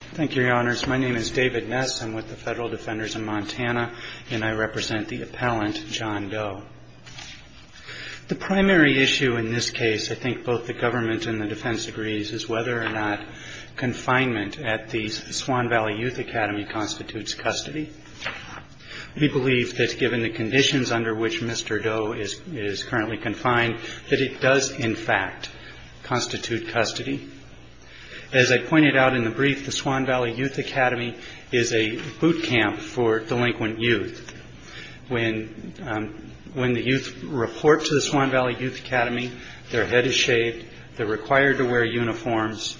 Thank you, your honors. My name is David Ness. I'm with the Federal Defenders in Montana, and I represent the appellant John Doe. The primary issue in this case, I think both the government and the defense agrees, is whether or not confinement at the Swan Valley Youth Academy constitutes custody. We believe that given the conditions under which Mr. Doe is currently confined, that it does, in fact, constitute custody. As I pointed out in the brief, the Swan Valley Youth Academy is a boot camp for delinquent youth. When the youth report to the Swan Valley Youth Academy, their head is shaved, they're required to wear uniforms,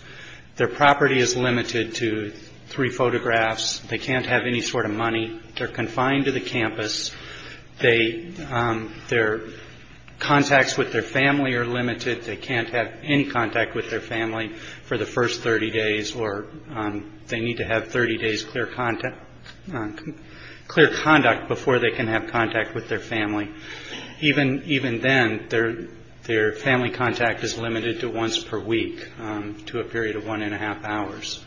their property is limited to three photographs, they can't have any sort of money, they're confined to the campus, their contacts with their family are limited, they can't have any contact with their family for the first 30 days, or they need to have 30 days clear conduct before they can have contact with their family. Even then, their family contact is limited to once per week, to a period of one and a half hours.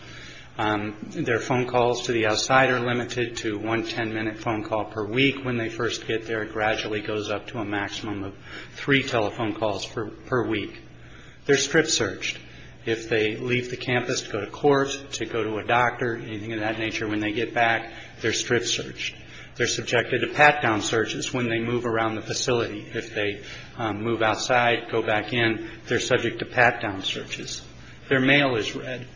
Their phone calls to the outside are limited to one 10-minute phone call per week. When they first get there, it gradually goes up to a maximum of three telephone calls per week. They're strip-searched. If they leave the campus to go to court, to go to a doctor, anything of that nature, when they get back, they're strip-searched. They're subjected to pat-down searches when they move around the facility. If they move outside, go back in, they're subject to pat-down searches. Their mail is read.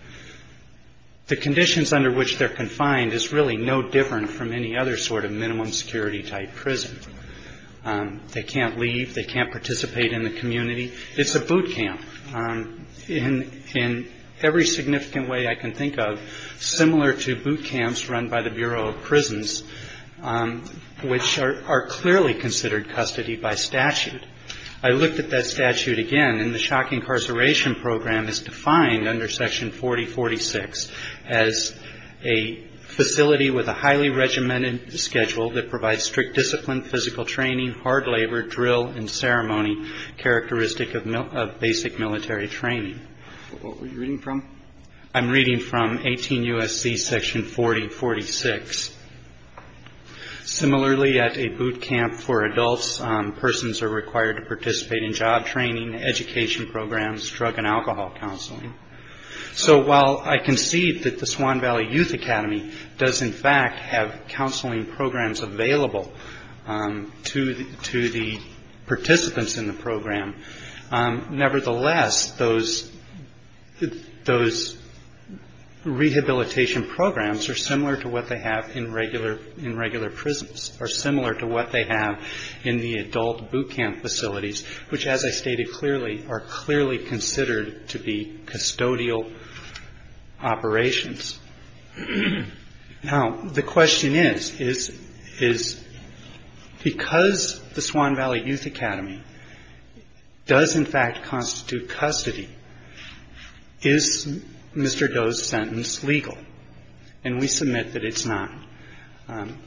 The conditions under which they're confined is really no different from any other sort of minimum security type prison. They can't leave, they can't participate in the community. It's a boot camp. In every significant way I can think of, similar to boot camps run by the Bureau of Prisons, which are clearly considered custody by statute. I looked at that statute again, and the shock incarceration program is defined under Section 4046 as a facility with a highly regimented schedule that provides strict discipline, physical training, hard labor, drill, and ceremony characteristic of basic military training. What were you reading from? I'm reading from 18 U.S.C. Section 4046. Similarly, at a boot camp for adults, persons are required to participate in job training, education programs, drug and alcohol counseling. So while I concede that the Swan Valley Youth Academy does in fact have counseling programs available to the participants in the program, nevertheless, those rehabilitation programs are similar to what they have in regular prisons, or similar to what they have in the adult boot camp facilities, which, as I stated clearly, are clearly considered to be custodial operations. Now, the question is, is because the Swan Valley Youth Academy does in fact constitute custody, is Mr. Doe's sentence legal? And we submit that it's not.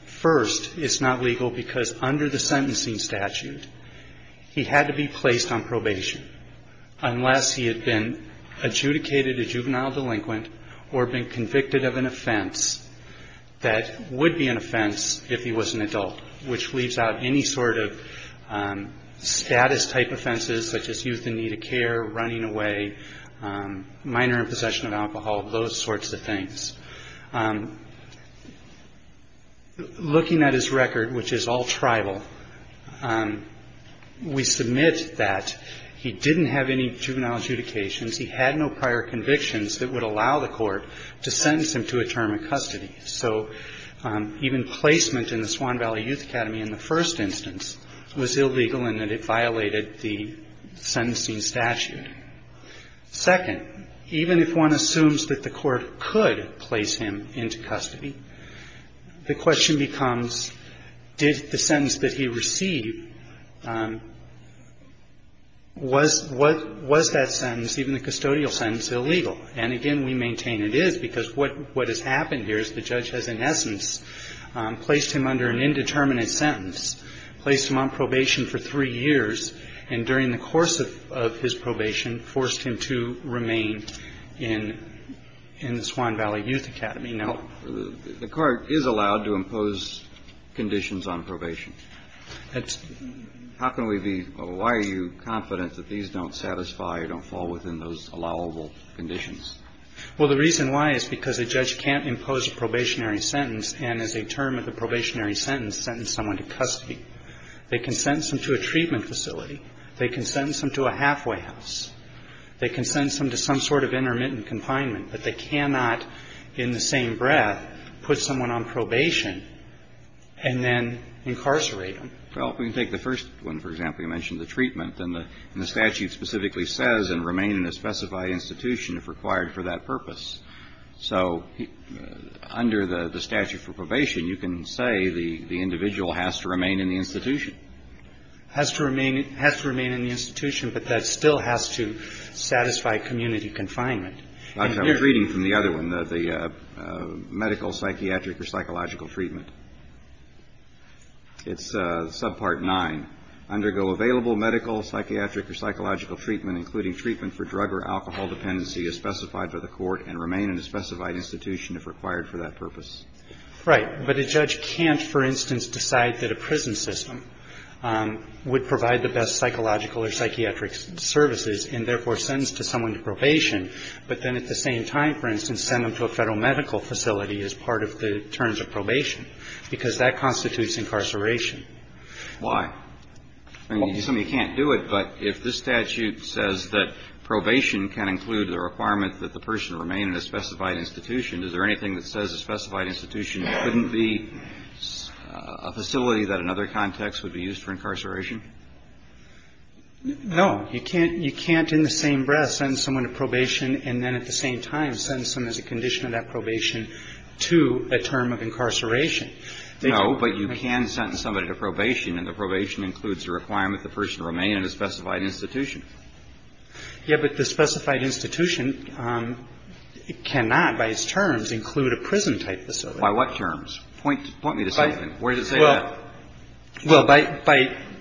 First, it's not legal because under the sentencing statute, he had to be placed on probation unless he had been adjudicated a juvenile delinquent or been convicted of an offense that would be an offense if he was an adult, which leaves out any sort of status-type offenses such as youth in need of care, running away, minor in possession of alcohol, those sorts of things. Looking at his record, which is all tribal, we submit that he didn't have any juvenile adjudications. He had no prior convictions that would allow the court to sentence him to a term of custody. So even placement in the Swan Valley Youth Academy in the first instance was illegal in that it violated the sentencing statute. Second, even if one assumes that the court could place him into custody, the question becomes, did the sentence that he received, was that sentence, even the custodial sentence, illegal? And again, we maintain it is because what has happened here is the judge has in essence placed him under an indeterminate sentence, placed him on probation for three years, and during the course of his probation forced him to remain in the Swan Valley Youth Academy. The court is allowed to impose conditions on probation. How can we be or why are you confident that these don't satisfy or don't fall within those allowable conditions? Well, the reason why is because a judge can't impose a probationary sentence and as a term of a probationary sentence, sentence someone to custody. They can sentence them to a treatment facility. They can sentence them to a halfway house. They can sentence them to some sort of intermittent confinement, but they cannot in the same breath put someone on probation and then incarcerate them. Well, if we can take the first one, for example, you mentioned the treatment, and the statute specifically says and remain in a specified institution if required for that purpose. So under the statute for probation, you can say the individual has to remain in the institution. Has to remain in the institution, but that still has to satisfy community confinement. I was reading from the other one, the medical, psychiatric or psychological treatment. It's subpart nine. Undergo available medical, psychiatric or psychological treatment, including treatment for drug or alcohol dependency as specified by the court and remain in a specified institution if required for that purpose. Right. But a judge can't, for instance, decide that a prison system would provide the best psychological or psychiatric services and therefore sentence to someone to probation, but then at the same time, for instance, send them to a Federal medical facility as part of the terms of probation, because that constitutes incarceration. Why? I mean, some of you can't do it, but if the statute says that probation can include the requirement that the person remain in a specified institution, is there anything that says a specified institution couldn't be a facility that in other contexts would be used for incarceration? No. You can't in the same breath send someone to probation and then at the same time sentence them as a condition of that probation to a term of incarceration. No, but you can sentence somebody to probation and the probation includes the requirement that the person remain in a specified institution. Yeah, but the specified institution cannot, by its terms, include a prison type facility. By what terms? Point me to something. Where does it say that? Well, by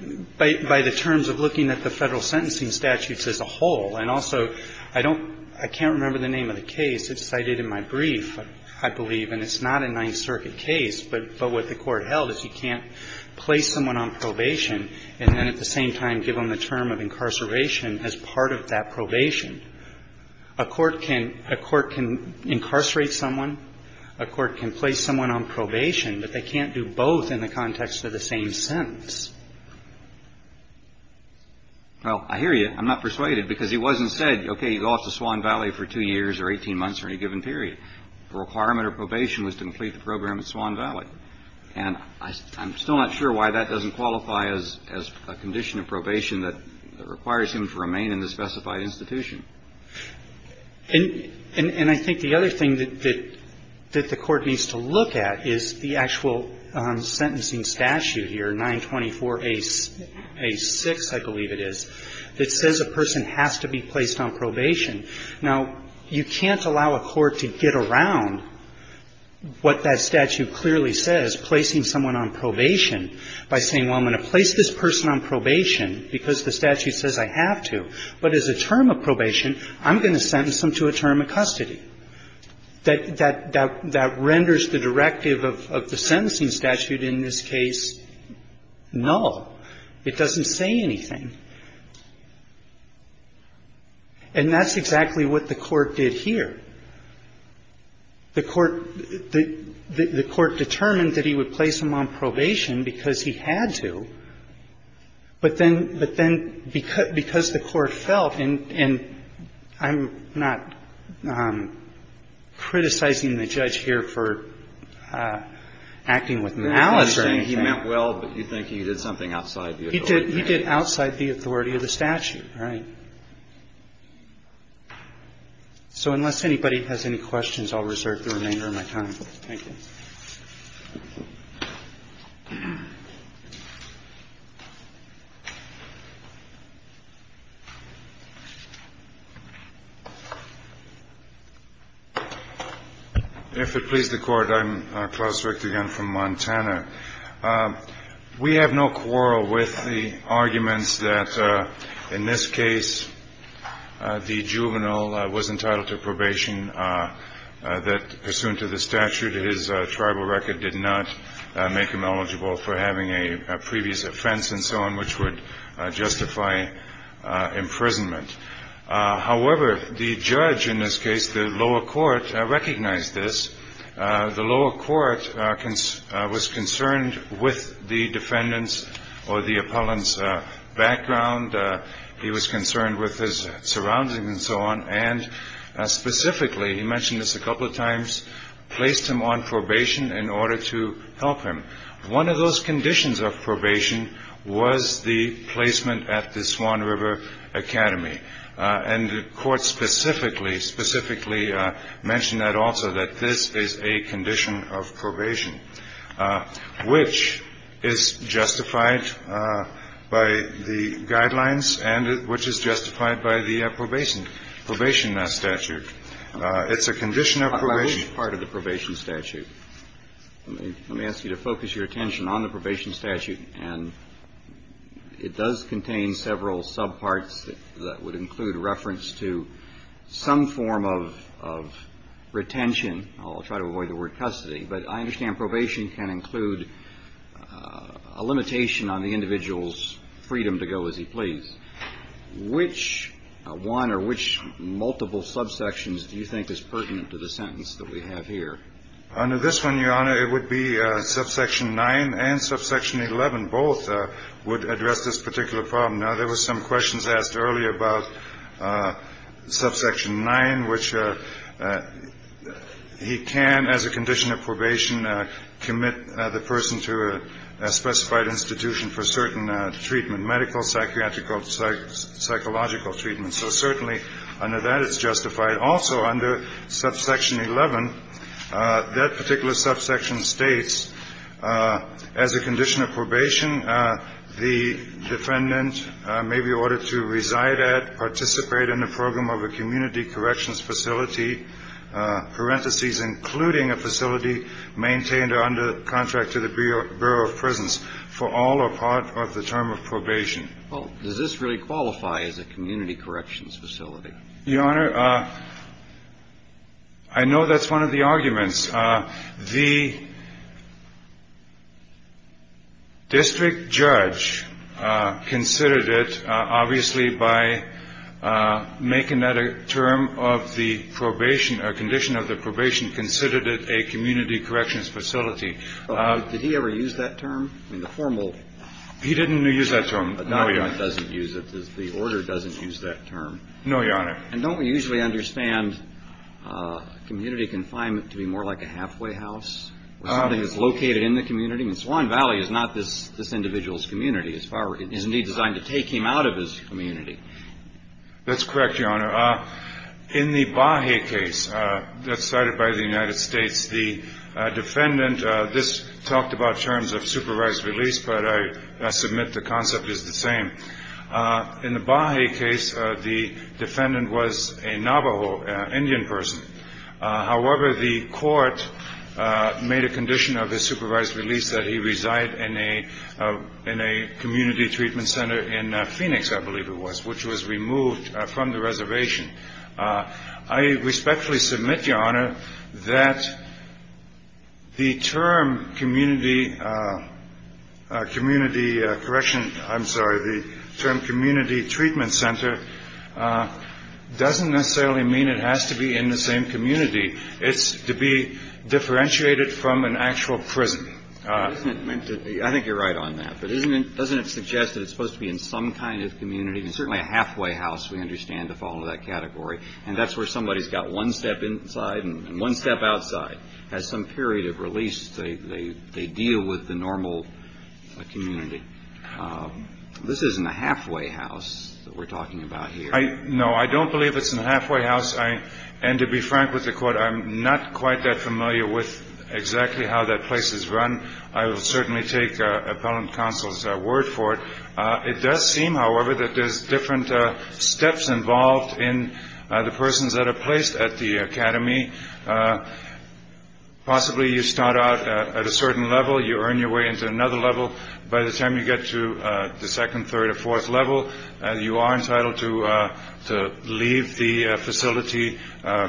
the terms of looking at the Federal sentencing statutes as a whole. And also, I don't – I can't remember the name of the case. It's cited in my brief, I believe, and it's not a Ninth Circuit case. But what the Court held is you can't place someone on probation and then at the same time give them the term of incarceration as part of that probation. A court can – a court can incarcerate someone, a court can place someone on probation, but they can't do both in the context of the same sentence. Well, I hear you. I'm not persuaded because it wasn't said, okay, you go off to Swan Valley for two years or 18 months or any given period. The requirement of probation was to complete the program at Swan Valley. And I'm still not sure why that doesn't qualify as a condition of probation that requires him to remain in the specified institution. And I think the other thing that the Court needs to look at is the actual sentencing statute here, 924A6, I believe it is, that says a person has to be placed on probation. Now, you can't allow a court to get around what that statute clearly says, placing someone on probation, by saying, well, I'm going to place this person on probation because the statute says I have to, but as a term of probation, I'm going to sentence them to a term of custody. That renders the directive of the sentencing statute in this case null. It doesn't say anything. And that's exactly what the Court did here. The Court determined that he would place him on probation because he had to, but then because the Court felt, and I'm not criticizing the judge here for acting with malice or anything. He did outside the authority of the statute, right? So unless anybody has any questions, I'll reserve the remainder of my time. Thank you. If it please the Court, I'm Klaus Richter again from Montana. We have no quarrel with the arguments that, in this case, the juvenile was entitled to probation. That, pursuant to the statute, his tribal record did not make him eligible for having a previous offense and so on, which would justify imprisonment. However, the judge in this case, the lower court, recognized this. The lower court was concerned with the defendant's or the appellant's background. He was concerned with his surroundings and so on. And specifically, he mentioned this a couple of times, placed him on probation in order to help him. One of those conditions of probation was the placement at the Swan River Academy. And the court specifically, specifically mentioned that also, that this is a condition of probation, which is justified by the guidelines and which is justified by the probation statute. It's a condition of probation. I believe it's part of the probation statute. Let me ask you to focus your attention on the probation statute. And it does contain several subparts that would include reference to some form of retention. I'll try to avoid the word custody. But I understand probation can include a limitation on the individual's freedom to go as he pleases. Which one or which multiple subsections do you think is pertinent to the sentence that we have here? Under this one, Your Honor, it would be subsection 9 and subsection 11. Both would address this particular problem. Now, there were some questions asked earlier about subsection 9, which he can, as a condition of probation, commit the person to a specified institution for certain treatment, medical, psychiatric or psychological treatment. So certainly under that, it's justified. Also, under subsection 11, that particular subsection states, as a condition of probation, the defendant may be ordered to reside at, participate in the program of a community corrections facility, parentheses, including a facility maintained or under contract to the Bureau of Prisons for all or part of the term of probation. Well, does this really qualify as a community corrections facility? Your Honor, I know that's one of the arguments. The district judge considered it, obviously, by making that a term of the probation or condition of the probation, considered it a community corrections facility. Did he ever use that term in the formal? He didn't use that term. A document doesn't use it. The order doesn't use that term. No, Your Honor. And don't we usually understand community confinement to be more like a halfway house, or something that's located in the community? I mean, Swan Valley is not this individual's community. It is indeed designed to take him out of his community. That's correct, Your Honor. In the Bahe case that's cited by the United States, the defendant, this talked about terms of supervised release, but I submit the concept is the same. In the Bahe case, the defendant was a Navajo Indian person. However, the court made a condition of the supervised release that he reside in a community treatment center in Phoenix, I believe it was, which was removed from the reservation. I respectfully submit, Your Honor, that the term community correction, I'm sorry, the term community treatment center doesn't necessarily mean it has to be in the same community. It's to be differentiated from an actual prison. I think you're right on that. But doesn't it suggest that it's supposed to be in some kind of community, certainly a halfway house, we understand, to follow that category, and that's where somebody's got one step inside and one step outside, has some period of release. They deal with the normal community. This isn't a halfway house that we're talking about here. No, I don't believe it's a halfway house. And to be frank with the court, I'm not quite that familiar with exactly how that place is run. I will certainly take Appellant Counsel's word for it. It does seem, however, that there's different steps involved in the persons that are placed at the academy. Possibly you start out at a certain level. You earn your way into another level. By the time you get to the second, third, or fourth level, you are entitled to leave the facility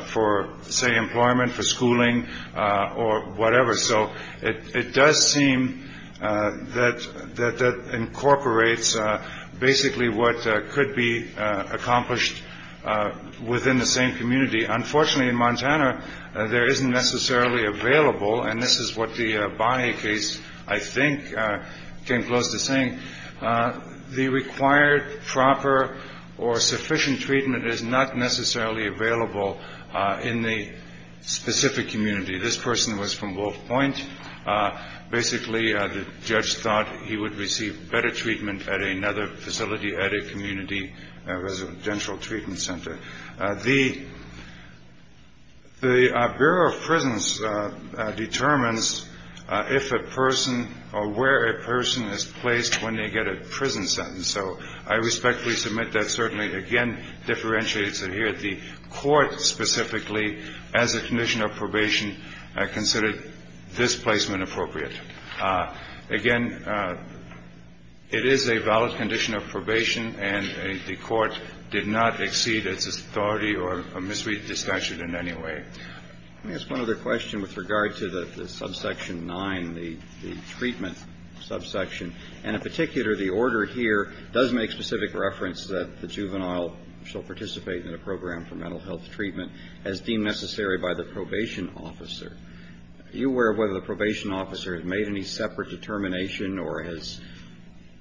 for, say, employment, for schooling, or whatever. So it does seem that that incorporates basically what could be accomplished within the same community. Unfortunately, in Montana, there isn't necessarily available, and this is what the Bonney case, I think, came close to saying, the required proper or sufficient treatment is not necessarily available in the specific community. This person was from Wolf Point. Basically, the judge thought he would receive better treatment at another facility, at a community residential treatment center. The Bureau of Prisons determines if a person or where a person is placed when they get a prison sentence. So I respectfully submit that certainly, again, differentiates it here. The court specifically, as a condition of probation, considered this placement appropriate. Again, it is a valid condition of probation, and the court did not exceed its authority or misread the statute in any way. Let me ask one other question with regard to the subsection 9, the treatment subsection. And in particular, the order here does make specific reference that the juvenile shall participate in a program for mental health treatment as deemed necessary by the probation officer. Are you aware of whether the probation officer has made any separate determination or has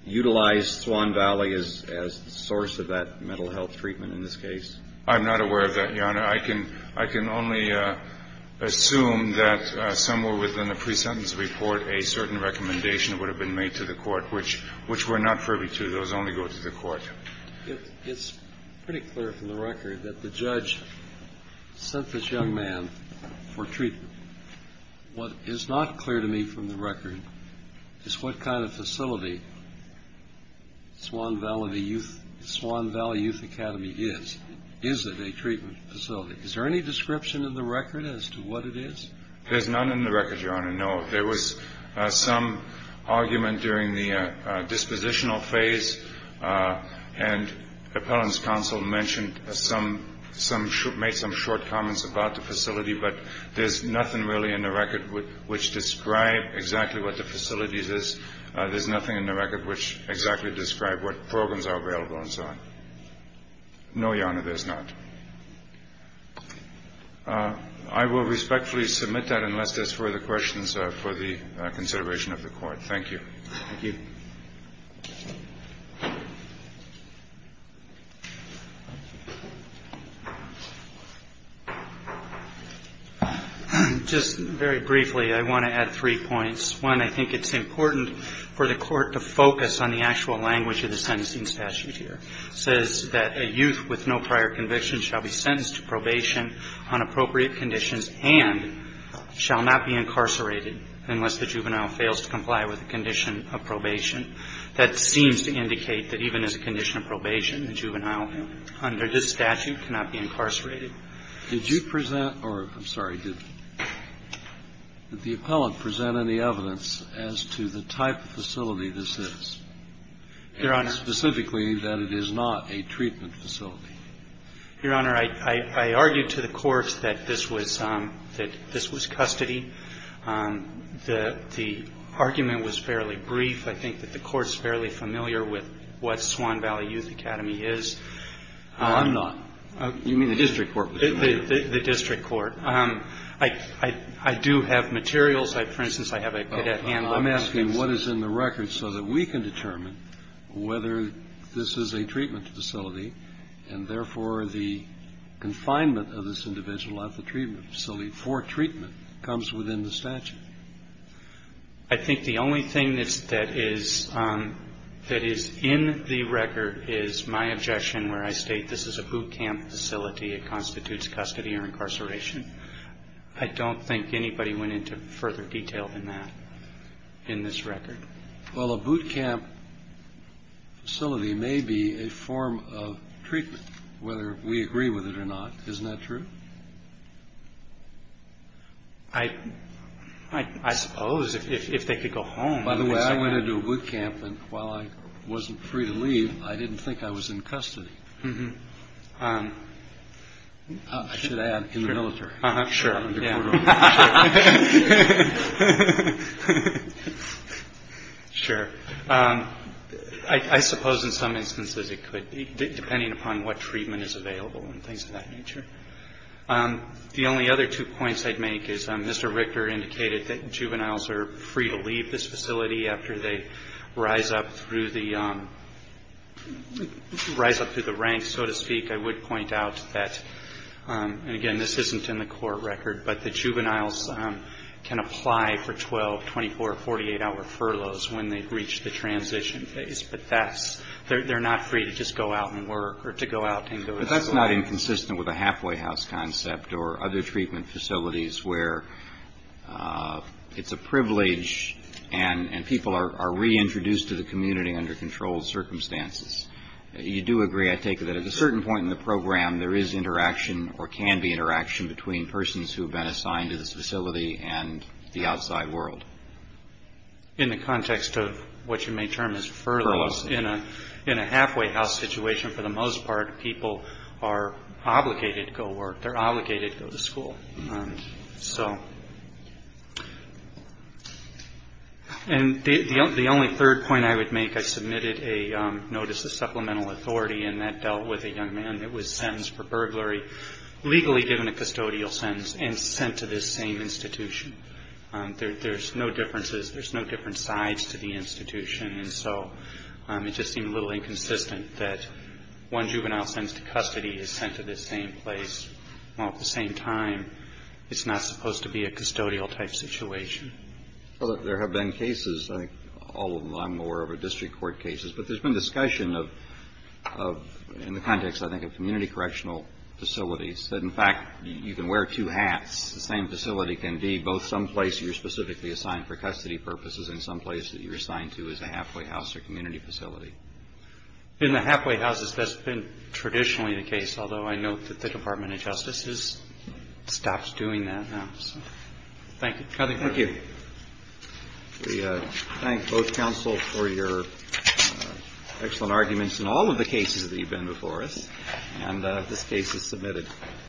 utilized Swan Valley as the source of that mental health treatment in this case? I can only assume that somewhere within the pre-sentence report, a certain recommendation would have been made to the court, which we're not privy to. Those only go to the court. It's pretty clear from the record that the judge sent this young man for treatment. What is not clear to me from the record is what kind of facility Swan Valley Youth Academy is. Is it a treatment facility? Is there any description in the record as to what it is? There's none in the record, Your Honor, no. There was some argument during the dispositional phase, and appellant's counsel mentioned and made some short comments about the facility, but there's nothing really in the record which described exactly what the facility is. There's nothing in the record which exactly described what programs are available and so on. No, Your Honor, there's not. I will respectfully submit that unless there's further questions for the consideration of the court. Thank you. Thank you. Just very briefly, I want to add three points. One, I think it's important for the court to focus on the actual language of the sentencing statute here. It says that a youth with no prior conviction shall be sentenced to probation on appropriate conditions and shall not be incarcerated unless the juvenile fails to comply with the condition of probation. That seems to indicate that even as a condition of probation, the juvenile under this statute cannot be incarcerated. Did you present or, I'm sorry, did the appellant present any evidence as to the type of facility this is? Your Honor. And specifically that it is not a treatment facility. Your Honor, I argued to the court that this was custody. The argument was fairly brief. I think that the court's fairly familiar with what Swan Valley Youth Academy is. No, I'm not. You mean the district court? The district court. I do have materials. For instance, I have a cadet handbook. I'm asking what is in the record so that we can determine whether this is a treatment facility and, therefore, the confinement of this individual at the treatment facility for treatment comes within the statute. I think the only thing that is in the record is my objection where I state this is a boot camp facility. It constitutes custody or incarceration. I don't think anybody went into further detail than that in this record. Well, a boot camp facility may be a form of treatment, whether we agree with it or not. Isn't that true? I suppose if they could go home. By the way, I went into a boot camp, and while I wasn't free to leave, I didn't think I was in custody. I should add, in the military. Sure. I suppose in some instances it could be, depending upon what treatment is available and things of that nature. The only other two points I'd make is Mr. Richter indicated that juveniles are free to leave this facility after they rise up through the ranks, so to speak. I would point out that, and again, this isn't in the court record, but the juveniles can apply for 12-, 24-, or 48-hour furloughs when they reach the transition phase. But they're not free to just go out and work or to go out and go to school. But that's not inconsistent with a halfway house concept or other treatment facilities where it's a privilege and people are reintroduced to the community under controlled circumstances. You do agree, I take it, that at a certain point in the program there is interaction or can be interaction between persons who have been assigned to this facility and the outside world. In the context of what you may term as furloughs, in a halfway house situation, for the most part people are obligated to go work. They're obligated to go to school. And the only third point I would make, I submitted a notice of supplemental authority, and that dealt with a young man that was sentenced for burglary, legally given a custodial sentence, and sent to this same institution. There's no differences, there's no different sides to the institution, and so it just seemed a little inconsistent that one juvenile sent to custody is sent to this same place, while at the same time it's not supposed to be a custodial type situation. Well, there have been cases, I think all of them, I'm aware of, are district court cases. But there's been discussion of, in the context, I think, of community correctional facilities, that in fact you can wear two hats. The same facility can be both someplace you're specifically assigned for custody purposes and someplace that you're assigned to as a halfway house or community facility. In the halfway houses, that's been traditionally the case, although I note that the Department of Justice has stopped doing that now. Thank you. Thank you. We thank both counsel for your excellent arguments in all of the cases that you've been before us. And this case is submitted. Thank you.